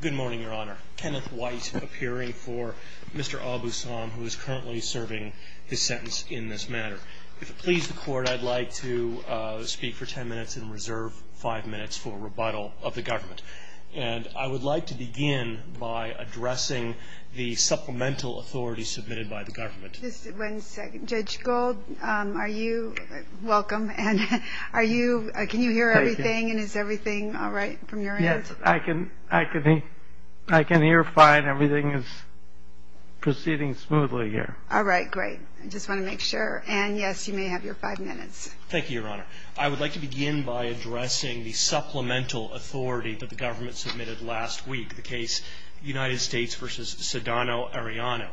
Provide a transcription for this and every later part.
Good morning, your honor. Kenneth White appearing for Mr. Abu-Sam, who is currently serving his sentence in this matter. If it pleases the court, I'd like to speak for ten minutes and reserve five minutes for a rebuttal of the government. And I would like to begin by addressing the supplemental authority submitted by the government. Just one second. Judge Gold, are you – welcome – and are you – can you hear everything and is everything all right from your end? I can – I can hear fine. Everything is proceeding smoothly here. All right, great. I just want to make sure. And, yes, you may have your five minutes. Thank you, your honor. I would like to begin by addressing the supplemental authority that the government submitted last week, the case United States v. Sedano Arellano.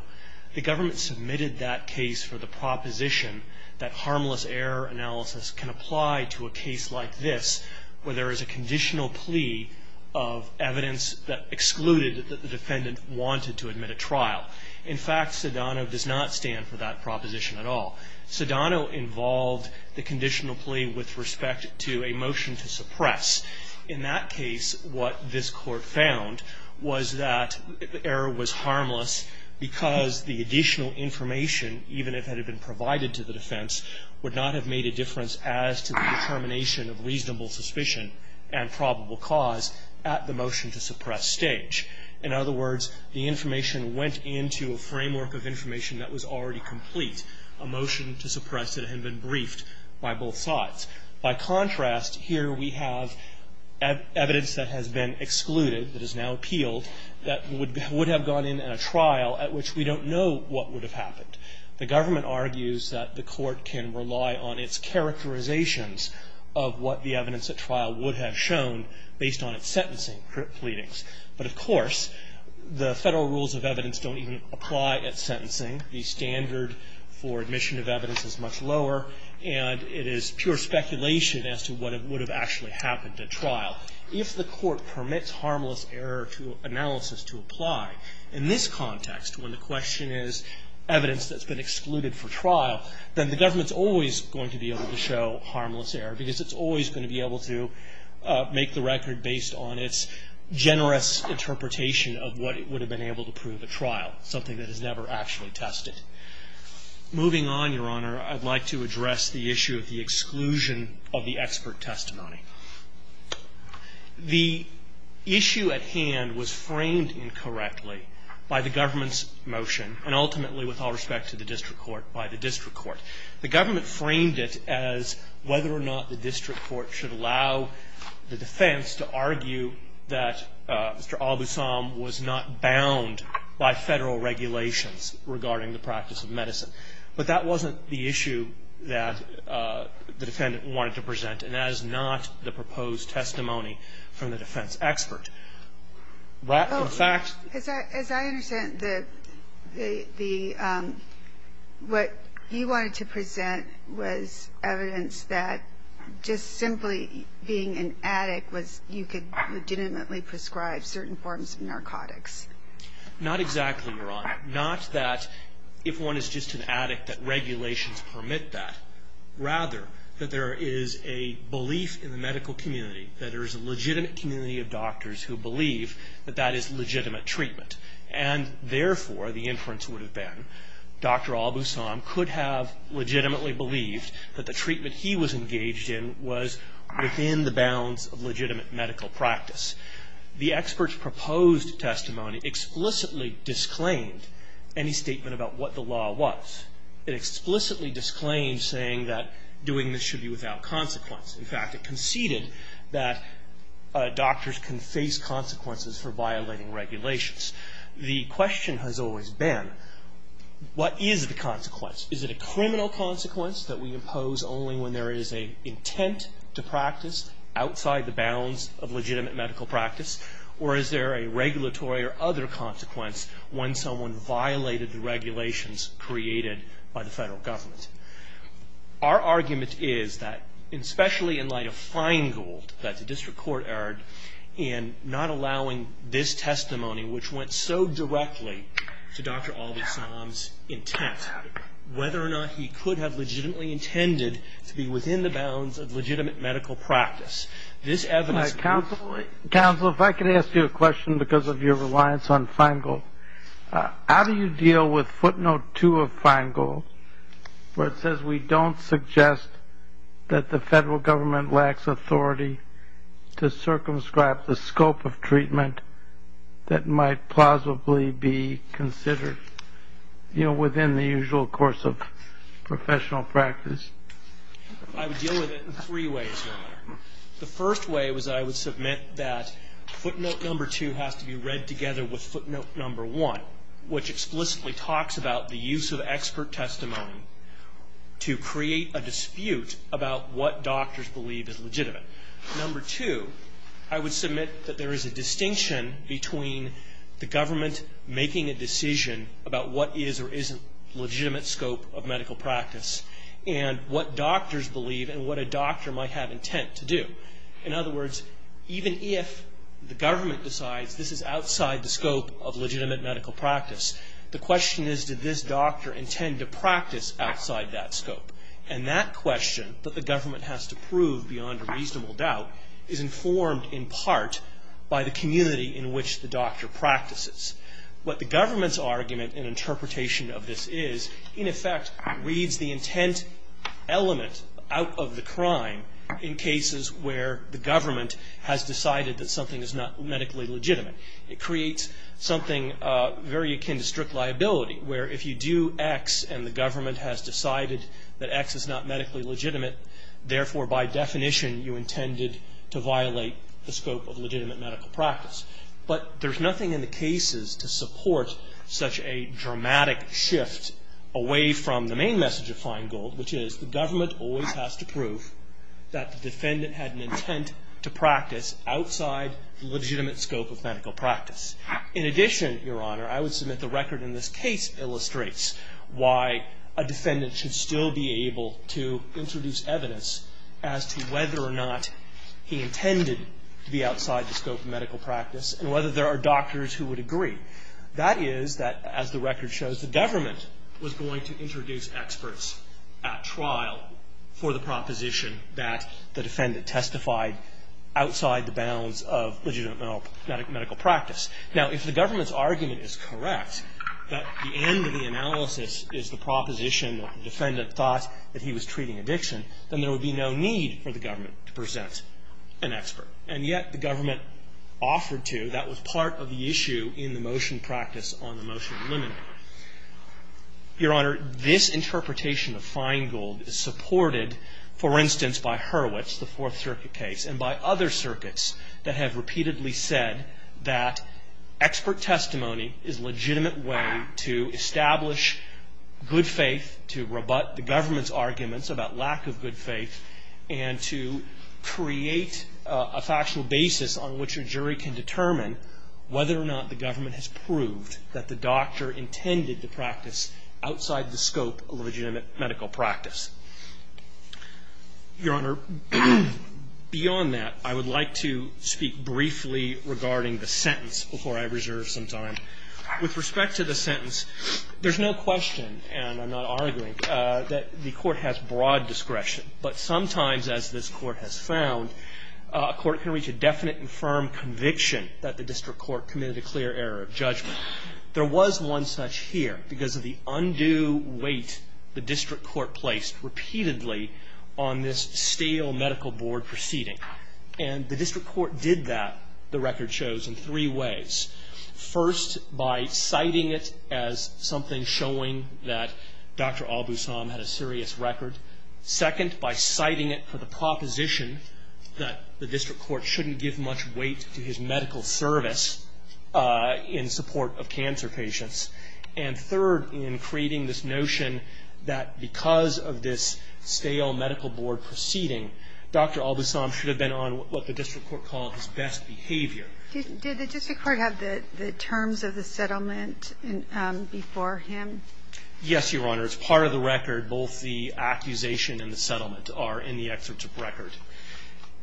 The government submitted that case for the proposition that harmless error analysis can apply to a case like this, where there is a conditional plea of evidence that excluded that the defendant wanted to admit a trial. In fact, Sedano does not stand for that proposition at all. Sedano involved the conditional plea with respect to a motion to suppress. In that case, what this Court found was that error was harmless because the additional information, even if it had been provided to the defense, would not have made a difference as to the determination of reasonable suspicion and probable cause at the motion to suppress stage. In other words, the information went into a framework of information that was already complete. A motion to suppress it had been briefed by both sides. By contrast, here we have evidence that has been excluded, that is now appealed, that would have gone in a trial at which we don't know what would have happened. The government argues that the Court can rely on its characterizations of what the evidence at trial would have shown based on its sentencing pleadings. But, of course, the Federal rules of evidence don't even apply at sentencing. The standard for admission of evidence is much lower, and it is pure speculation as to what would have actually happened at trial. If the Court permits harmless error analysis to apply in this context, when the question is evidence that's been excluded for trial, then the government's always going to be able to show harmless error because it's always going to be able to make the record based on its generous interpretation of what it would have been able to prove at trial, something that is never actually tested. Moving on, Your Honor, I'd like to address the issue of the exclusion of the expert testimony. The issue at hand was framed incorrectly by the government's motion, and ultimately, with all respect to the district court, by the district court. The government framed it as whether or not the district court should allow the defense to argue that Mr. Al-Busam was not bound by Federal regulations regarding the practice of medicine. But that wasn't the issue that the defendant wanted to present, and that is not the proposed testimony from the defense expert. In fact... As I understand, what he wanted to present was evidence that just simply being an addict was you could legitimately prescribe certain forms of narcotics. Not exactly, Your Honor. Not that if one is just an addict that regulations permit that. Rather, that there is a belief in the medical community that there is a legitimate community of doctors who believe that that is legitimate treatment. And therefore, the inference would have been Dr. Al-Busam could have legitimately believed that the treatment he was engaged in was within the bounds of legitimate medical practice. The expert's proposed testimony explicitly disclaimed any statement about what the law was. In fact, it explicitly disclaimed saying that doing this should be without consequence. In fact, it conceded that doctors can face consequences for violating regulations. The question has always been, what is the consequence? Is it a criminal consequence that we impose only when there is an intent to practice outside the bounds of legitimate medical practice? Or is there a regulatory or other consequence when someone violated the regulations created by the federal government? Our argument is that, especially in light of Feingold that the district court erred in not allowing this testimony, which went so directly to Dr. Al-Busam's intent, whether or not he could have legitimately intended to be within the bounds of legitimate medical practice. Counsel, if I could ask you a question because of your reliance on Feingold. How do you deal with footnote 2 of Feingold where it says we don't suggest that the federal government lacks authority to circumscribe the scope of treatment that might plausibly be considered, you know, within the usual course of professional practice? I would deal with it in three ways. The first way was I would submit that footnote number 2 has to be read together with footnote number 1, which explicitly talks about the use of expert testimony to create a dispute about what doctors believe is legitimate. Number 2, I would submit that there is a distinction between the government making a decision about what is or isn't legitimate scope of medical practice and what doctors believe and what a doctor might have intent to do. In other words, even if the government decides this is outside the scope of legitimate medical practice, the question is did this doctor intend to practice outside that scope? And that question that the government has to prove beyond a reasonable doubt is informed in part by the community in which the doctor practices. What the government's argument and interpretation of this is in effect reads the intent element out of the crime in cases where the government has decided that something is not medically legitimate. It creates something very akin to strict liability where if you do X and the government has decided that X is not medically legitimate, therefore by definition you intended to violate the scope of legitimate medical practice. But there's nothing in the cases to support such a dramatic shift away from the main message of Feingold, which is the government always has to prove that the defendant had an intent to practice outside legitimate scope of medical practice. In addition, Your Honor, I would submit the record in this case illustrates why a defendant should still be able to introduce evidence as to whether or not he intended to be outside the scope of medical practice and whether there are doctors who would agree. That is that, as the record shows, the government was going to introduce experts at trial for the proposition that the defendant testified outside the bounds of legitimate medical practice. Now if the government's argument is correct, that the end of the analysis is the proposition that the defendant thought that he was treating addiction, then there would be no need for the government to present an expert. And yet the government offered to. That was part of the issue in the motion practice on the motion to eliminate. Your Honor, this interpretation of Feingold is supported, for instance, by Hurwitz, the Fourth Circuit case, and by other circuits that have repeatedly said that expert testimony is a legitimate way to establish good faith to rebut the government's lack of good faith and to create a factual basis on which a jury can determine whether or not the government has proved that the doctor intended to practice outside the scope of legitimate medical practice. Your Honor, beyond that, I would like to speak briefly regarding the sentence before I reserve some time. With respect to the sentence, there's no question, and I'm not arguing, that the court has broad discretion. But sometimes, as this court has found, a court can reach a definite and firm conviction that the district court committed a clear error of judgment. There was one such here because of the undue weight the district court placed repeatedly on this stale medical board proceeding. And the district court did that, the record shows, in three ways. First, by citing it as something showing that Dr. Albusom had a serious record. Second, by citing it for the proposition that the district court shouldn't give much weight to his medical service in support of cancer patients. And third, in creating this notion that because of this stale medical board proceeding, Dr. Albusom should have been on what the district court called his best behavior. Did the district court have the terms of the settlement before him? Yes, Your Honor. It's part of the record. Both the accusation and the settlement are in the excerpts of record.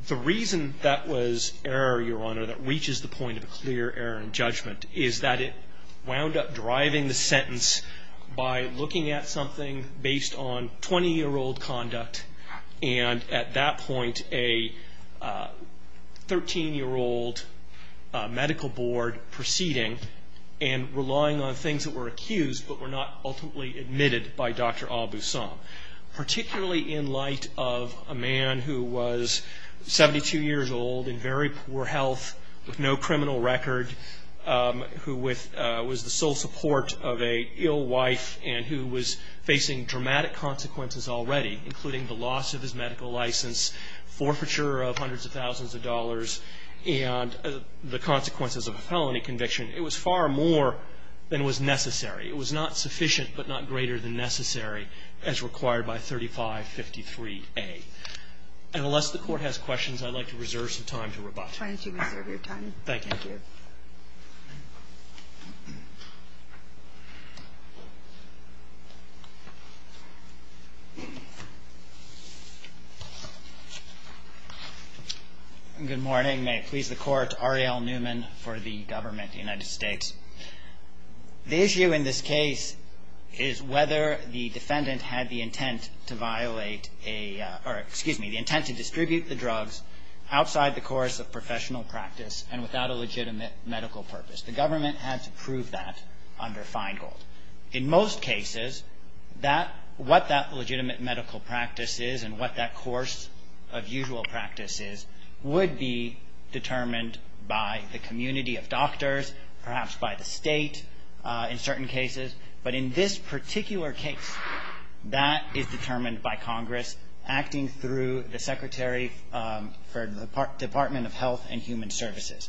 The reason that was error, Your Honor, that reaches the point of a clear error in judgment is that it wound up deriving the sentence by looking at something based on 20-year-old conduct and, at that point, a 13-year-old medical board proceeding and relying on things that were accused but were not ultimately admitted by Dr. Albusom, particularly in light of a man who was 72 years old in very poor health with no criminal record, who was the sole support of an ill wife and who was facing dramatic consequences already, including the loss of his medical license, forfeiture of hundreds of thousands of dollars, and the consequences of a felony conviction. It was far more than was necessary. It was not sufficient but not greater than necessary as required by 3553A. And unless the Court has questions, I'd like to reserve some time to rebut. Thank you. Good morning. May it please the Court. Ariel Newman for the Government of the United States. The issue in this case is whether the defendant had the intent to violate a or, excuse me, the intent to distribute the drugs outside the course of professional practice and without a legitimate medical purpose. The government had to prove that under Feingold. In most cases, what that legitimate medical practice is and what that course of usual practice is would be determined by the community of doctors, perhaps by the state in certain cases, but in this particular case, that is determined by Congress acting through the Secretary for the Department of Health and Human Services.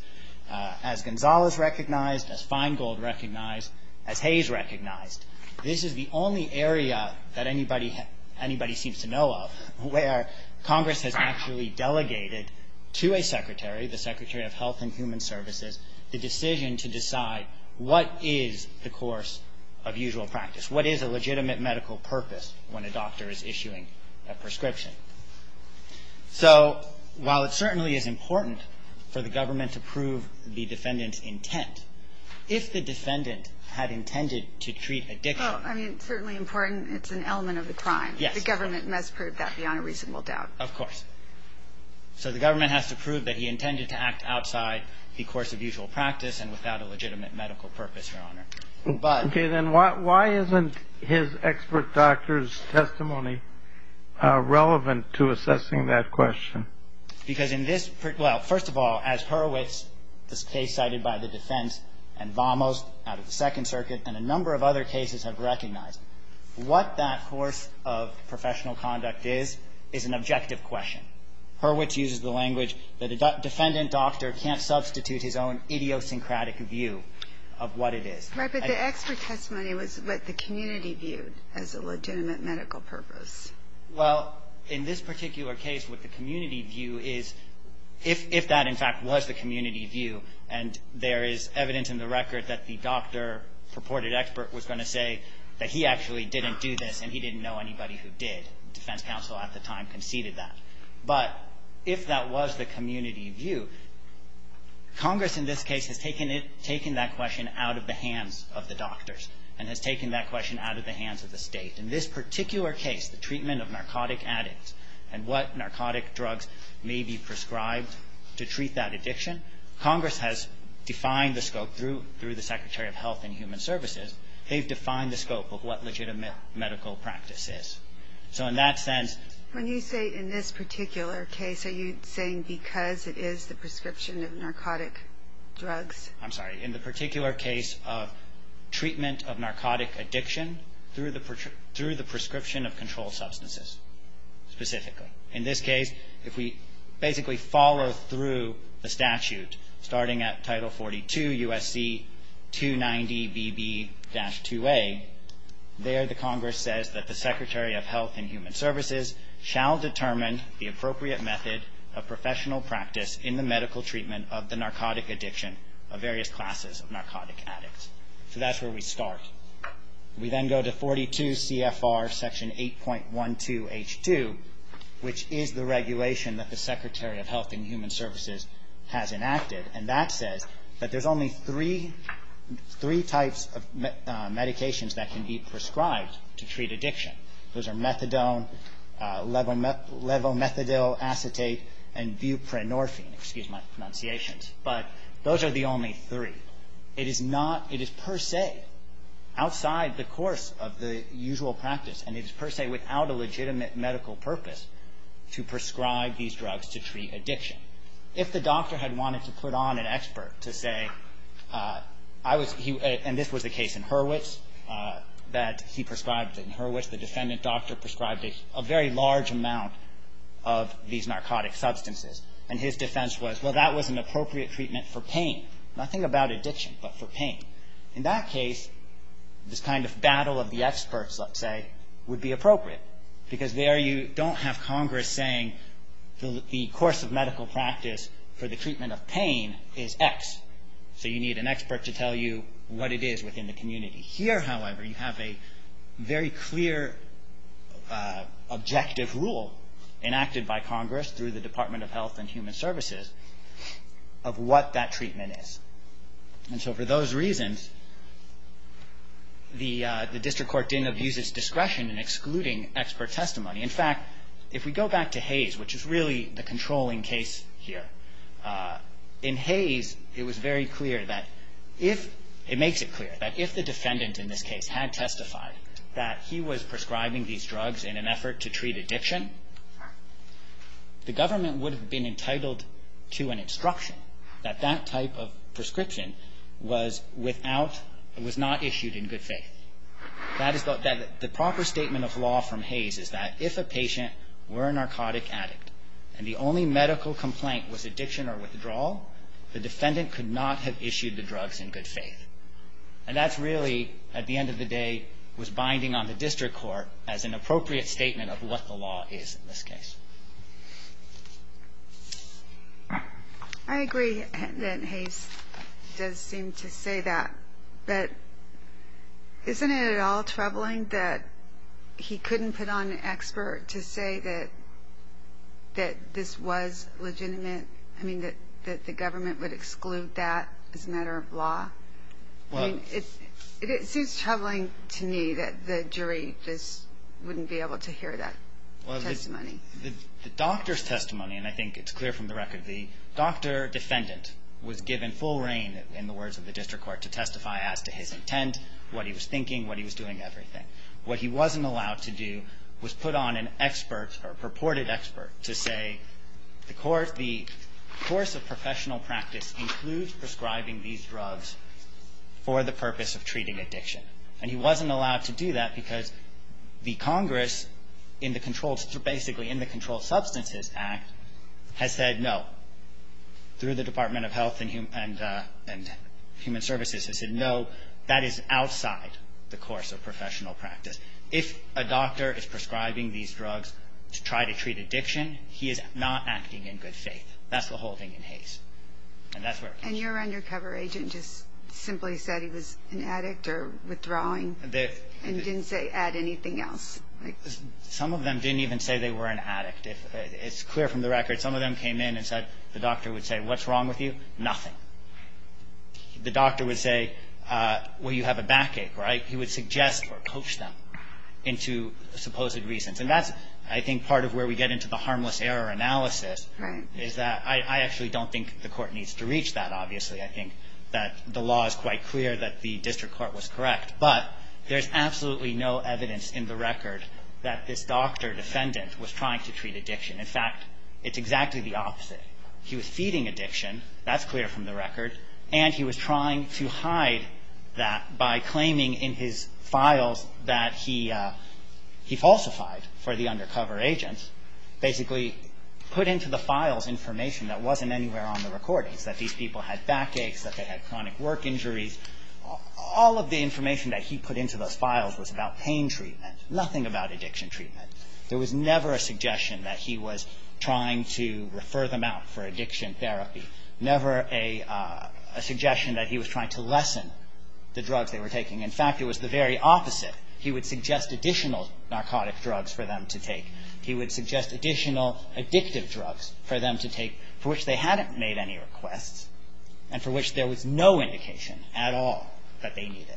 As Gonzalez recognized, as Feingold recognized, as Hayes recognized, this is the only area that anybody seems to know of where Congress has actually delegated to a secretary, the Secretary of Health and Human Services, the decision to decide what is the course of usual practice, what is a legitimate medical purpose when a doctor is issuing a prescription. So while it certainly is important for the government to prove the defendant's intent, if the defendant had intended to treat addiction. Well, I mean, certainly important, it's an element of the crime. The government must prove that beyond a reasonable doubt. Of course. So the government has to prove that he intended to act outside the course of usual practice and without a legitimate medical purpose, Your Honor. Okay. Then why isn't his expert doctor's testimony relevant to assessing that question? Because in this, well, first of all, as Hurwitz, this case cited by the defense, and Vamos out of the Second Circuit, and a number of other cases have recognized, what that course of professional conduct is, is an objective question. Hurwitz uses the language that a defendant doctor can't substitute his own idiosyncratic view of what it is. Right. But the expert testimony was what the community viewed as a legitimate medical purpose. Well, in this particular case, what the community view is, if that in fact was the evidence in the record that the doctor purported expert was going to say that he actually didn't do this and he didn't know anybody who did, defense counsel at the time conceded that. But if that was the community view, Congress in this case has taken it, taken that question out of the hands of the doctors and has taken that question out of the hands of the state. In this particular case, the treatment of narcotic addicts and what narcotic drugs may be prescribed to treat that addiction, Congress has defined the scope through the Secretary of Health and Human Services. They've defined the scope of what legitimate medical practice is. So in that sense. When you say in this particular case, are you saying because it is the prescription of narcotic drugs? I'm sorry. In the particular case of treatment of narcotic addiction through the prescription of controlled substances, specifically. In this case, if we basically follow through the statute starting at Title 42 USC 290BB-2A, there the Congress says that the Secretary of Health and Human Services shall determine the appropriate method of professional practice in the medical treatment of the narcotic addiction of various classes of narcotic addicts. So that's where we start. We then go to 42 CFR Section 8.12H2, which is the regulation that the Secretary of Health and Human Services has enacted. And that says that there's only three types of medications that can be prescribed to treat addiction. Those are methadone, levomethadil acetate, and buprenorphine. Excuse my pronunciations. But those are the only three. It is not, it is per se, outside the course of the usual practice, and it is per se without a legitimate medical purpose, to prescribe these drugs to treat addiction. If the doctor had wanted to put on an expert to say, I was, and this was the case in Hurwitz, that he prescribed in Hurwitz, the defendant doctor prescribed a very large amount of these narcotic substances, and his defense was, well, that was an appropriate treatment for pain. Nothing about addiction, but for pain. In that case, this kind of battle of the experts, let's say, would be appropriate. Because there you don't have Congress saying the course of medical practice for the treatment of pain is X. So you need an expert to tell you what it is within the community. Here, however, you have a very clear objective rule enacted by Congress through the Department of Health and Human Services of what that treatment is. And so for those reasons, the district court didn't abuse its discretion in excluding expert testimony. In fact, if we go back to Hayes, which is really the controlling case here, in Hayes, it was very clear that if, it makes it clear, that if the defendant in this case had testified that he was prescribing these drugs in an effort to treat The government would have been entitled to an instruction that that type of prescription was without, was not issued in good faith. That is, the proper statement of law from Hayes is that if a patient were a narcotic addict, and the only medical complaint was addiction or withdrawal, the defendant could not have issued the drugs in good faith. And that's really, at the end of the day, was binding on the district court as an I agree that Hayes does seem to say that. But isn't it at all troubling that he couldn't put on expert to say that this was legitimate, I mean, that the government would exclude that as a matter of law? I mean, it seems troubling to me that the jury just wouldn't be able to hear that testimony. Well, the doctor's testimony, and I think it's clear from the record, the doctor defendant was given full reign, in the words of the district court, to testify as to his intent, what he was thinking, what he was doing, everything. What he wasn't allowed to do was put on an expert or purported expert to say the court, the course of professional practice includes prescribing these drugs for the purpose of treating addiction. And he wasn't allowed to do that because the Congress, basically in the Controlled Substances Act, has said no. Through the Department of Health and Human Services has said no, that is outside the course of professional practice. If a doctor is prescribing these drugs to try to treat addiction, he is not acting in good faith. That's the whole thing in Hayes. And that's where it comes from. And your undercover agent just simply said he was an addict or withdrawing and didn't say add anything else. Some of them didn't even say they were an addict. It's clear from the record, some of them came in and said, the doctor would say, what's wrong with you? Nothing. The doctor would say, well, you have a backache, right? He would suggest or coach them into supposed reasons. And that's, I think, part of where we get into the harmless error analysis is that I actually don't think the court needs to reach that, obviously. I think that the law is quite clear that the district court was correct. But there's absolutely no evidence in the record that this doctor defendant was trying to treat addiction. In fact, it's exactly the opposite. He was feeding addiction. That's clear from the record. And he was trying to hide that by claiming in his files that he falsified for the information that wasn't anywhere on the recordings, that these people had backaches, that they had chronic work injuries. All of the information that he put into those files was about pain treatment, nothing about addiction treatment. There was never a suggestion that he was trying to refer them out for addiction therapy, never a suggestion that he was trying to lessen the drugs they were taking. In fact, it was the very opposite. He would suggest additional narcotic drugs for them to take. He would suggest additional addictive drugs for them to take, for which they hadn't made any requests and for which there was no indication at all that they needed.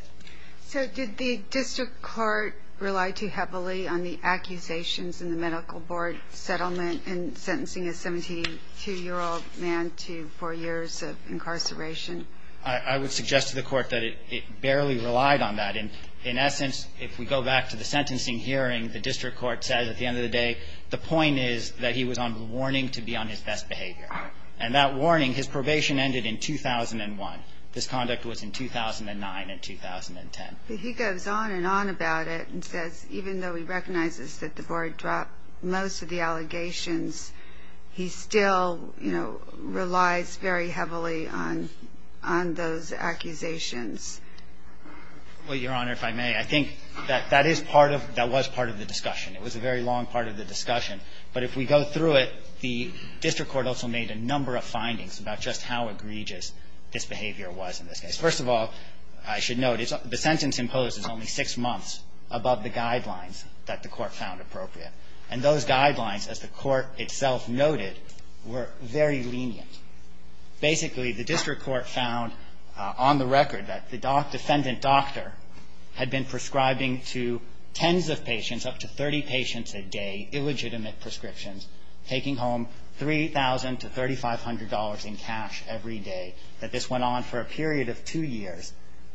So did the district court rely too heavily on the accusations in the medical board settlement in sentencing a 72-year-old man to four years of incarceration? I would suggest to the court that it barely relied on that. In essence, if we go back to the sentencing hearing, the district court said at the end of the day the point is that he was on the warning to be on his best behavior. And that warning, his probation ended in 2001. This conduct was in 2009 and 2010. But he goes on and on about it and says even though he recognizes that the board dropped most of the allegations, he still relies very heavily on those accusations. Well, Your Honor, if I may, I think that that is part of the discussion. It was a very long part of the discussion. But if we go through it, the district court also made a number of findings about just how egregious this behavior was in this case. First of all, I should note the sentence imposed is only six months above the guidelines that the court found appropriate. And those guidelines, as the court itself noted, were very lenient. Basically, the district court found on the record that the defendant doctor had been prescribing to tens of patients, up to 30 patients a day, illegitimate prescriptions, taking home $3,000 to $3,500 in cash every day, that this went on for a period of two years.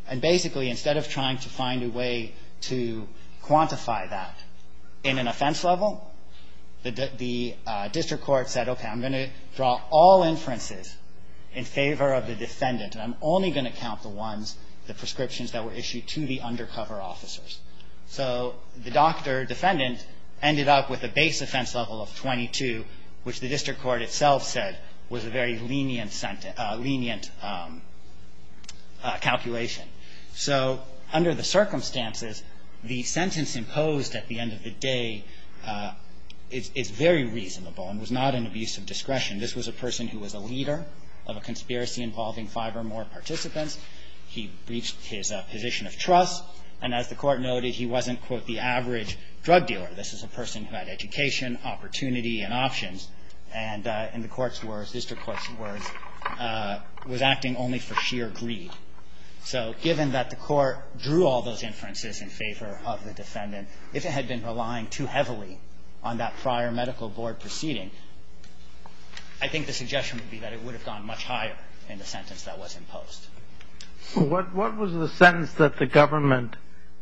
And basically, instead of trying to find a way to quantify that in an offense level, the district court said, okay, I'm going to draw all inferences in favor of the defendant, and I'm only going to count the ones, the prescriptions that were issued to the undercover officers. So the doctor defendant ended up with a base offense level of 22, which the district court itself said was a very lenient calculation. So under the circumstances, the sentence imposed at the end of the day is very reasonable and was not an abuse of discretion. This was a person who was a leader of a conspiracy involving five or more participants. He breached his position of trust. And as the court noted, he wasn't, quote, the average drug dealer. This is a person who had education, opportunity, and options. And in the court's words, district court's words, was acting only for sheer greed. So given that the court drew all those inferences in favor of the defendant, if it had been relying too heavily on that prior medical board proceeding, I think the suggestion would be that it would have gone much higher in the sentence that was imposed. What was the sentence that the government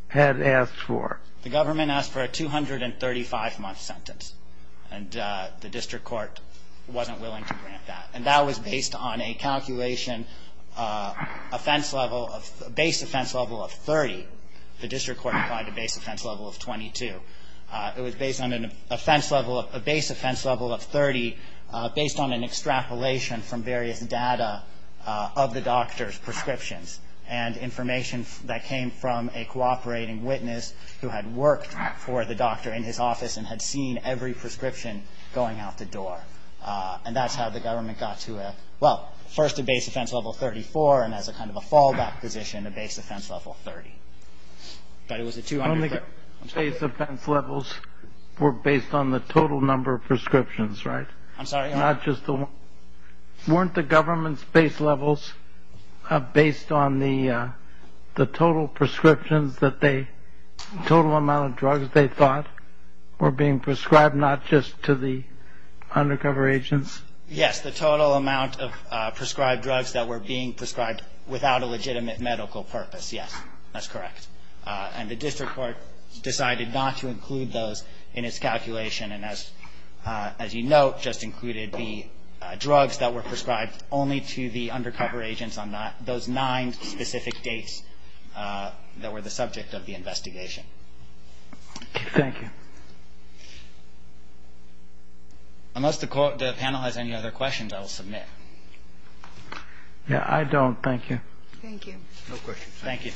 had asked for? The government asked for a 235-month sentence. And the district court wasn't willing to grant that. And that was based on a calculation, a base offense level of 30. The district court applied a base offense level of 22. It was based on a base offense level of 30, based on an extrapolation from various data of the doctor's prescriptions and information that came from a cooperating witness who had worked for the doctor in his office and had seen every prescription going out the door. And that's how the government got to a, well, first a base offense level of 34, and as a kind of a fallback position, a base offense level of 30. But it was a 235-month sentence. The base offense levels were based on the total number of prescriptions, right? I'm sorry? Not just the one. Weren't the government's base levels based on the total prescriptions that they, the total amount of drugs they thought were being prescribed not just to the undercover agents? Yes, the total amount of prescribed drugs that were being prescribed without a legitimate medical purpose. Yes, that's correct. And the district court decided not to include those in its calculation and, as you note, just included the drugs that were prescribed only to the undercover agents on those nine specific dates that were the subject of the investigation. Okay. Thank you. Unless the panel has any other questions, I will submit. No, I don't. Thank you. Thank you. No questions. Thank you.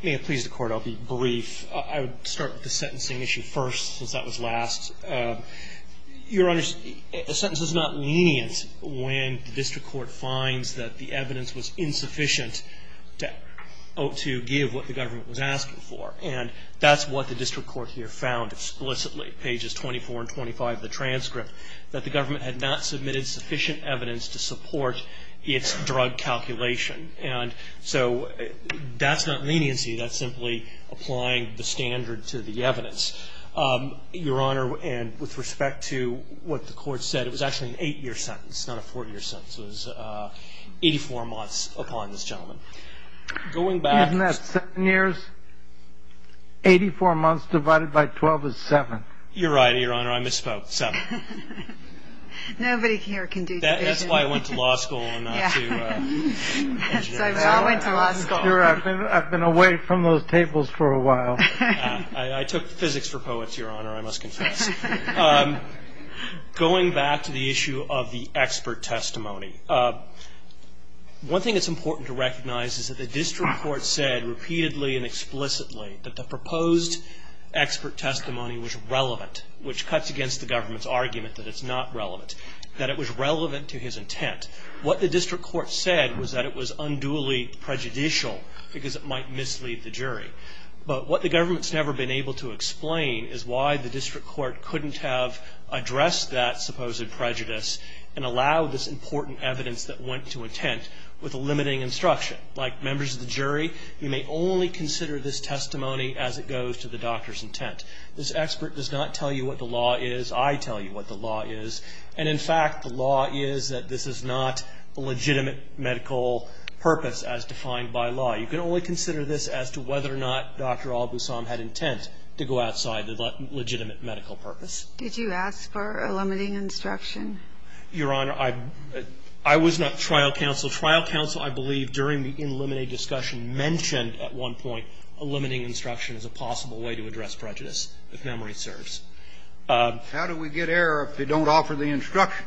May it please the Court, I'll be brief. I would start with the sentencing issue first since that was last. Your Honor, a sentence is not lenient when the district court finds that the evidence was insufficient to give what the government was asking for. And that's what the district court here found explicitly, pages 24 and 25 of the transcript, that the government had not submitted sufficient evidence to support its drug calculation. And so that's not leniency. That's simply applying the standard to the evidence. Your Honor, and with respect to what the court said, it was actually an eight-year sentence, not a four-year sentence. It was 84 months upon this gentleman. Isn't that seven years? Eighty-four months divided by 12 is seven. You're right, Your Honor. I misspoke. Seven. Nobody here can do division. That's why I went to law school and not to engineering. That's why we all went to law school. I've been away from those tables for a while. I took physics for poets, Your Honor, I must confess. Going back to the issue of the expert testimony, one thing that's important to recognize is that the district court said repeatedly and explicitly that the proposed expert testimony was relevant, which cuts against the government's argument that it's not relevant, that it was relevant to his intent. What the district court said was that it was unduly prejudicial because it might mislead the jury. But what the government's never been able to explain is why the district court couldn't have addressed that supposed prejudice and allowed this important evidence that went to intent with a limiting instruction. Like members of the jury, you may only consider this testimony as it goes to the doctor's intent. This expert does not tell you what the law is. I tell you what the law is. And, in fact, the law is that this is not a legitimate medical purpose as defined by law. You can only consider this as to whether or not Dr. Al-Busam had intent to go outside the legitimate medical purpose. Did you ask for a limiting instruction? Your Honor, I was not trial counsel. Trial counsel, I believe, during the in limine discussion mentioned at one point a limiting instruction as a possible way to address prejudice, if memory serves. How do we get error if they don't offer the instruction?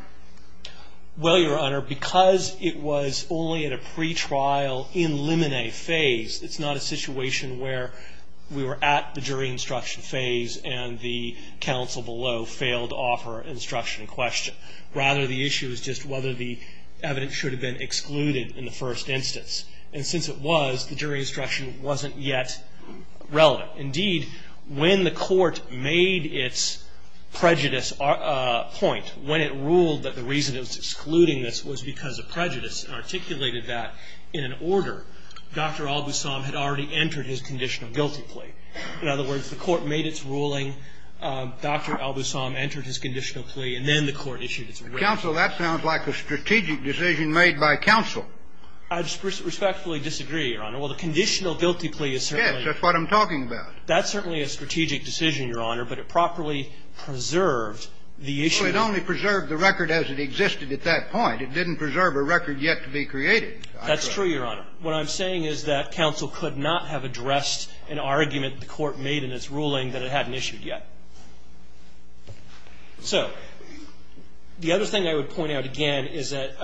Well, Your Honor, because it was only at a pretrial in limine phase, it's not a situation where we were at the jury instruction phase and the counsel below failed to offer instruction in question. Rather, the issue is just whether the evidence should have been excluded in the first instance. And since it was, the jury instruction wasn't yet relevant. Indeed, when the court made its prejudice point, when it ruled that the reason it was excluding this was because of prejudice and articulated that in an order, Dr. Al-Busam had already entered his conditional guilty plea. In other words, the court made its ruling, Dr. Al-Busam entered his conditional plea, and then the court issued its ruling. Counsel, that sounds like a strategic decision made by counsel. I respectfully disagree, Your Honor. Well, the conditional guilty plea is certainly. That's what I'm talking about. That's certainly a strategic decision, Your Honor, but it properly preserved the issue. Well, it only preserved the record as it existed at that point. It didn't preserve a record yet to be created. That's true, Your Honor. What I'm saying is that counsel could not have addressed an argument the court made in its ruling that it hadn't issued yet. So the other thing I would point out again is that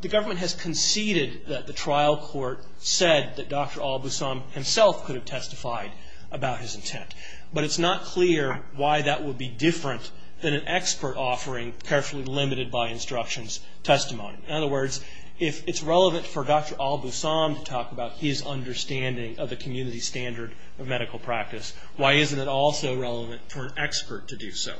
the government has conceded that the trial court said that Dr. Al-Busam himself could have testified about his intent, but it's not clear why that would be different than an expert offering carefully limited by instructions testimony. In other words, if it's relevant for Dr. Al-Busam to talk about his understanding of the community standard of medical practice, why isn't it also relevant for an expert to do so?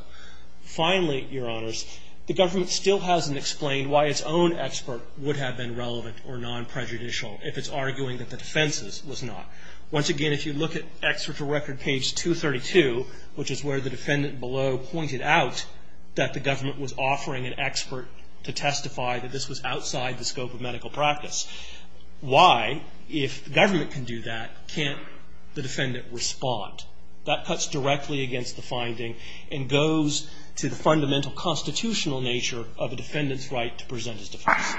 Finally, Your Honors, the government still hasn't explained why its own expert would have been relevant or non-prejudicial if it's arguing that the defense's was not. Once again, if you look at Exeter Record page 232, which is where the defendant below pointed out that the government was offering an expert to testify that this was outside the scope of medical practice, why, if the government can do that, can't the defendant respond? That cuts directly against the finding and goes to the fundamental constitutional nature of a defendant's right to present his defense.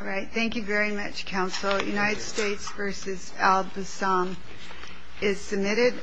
All right. Thank you very much, Counsel. United States v. Al-Busam is submitted.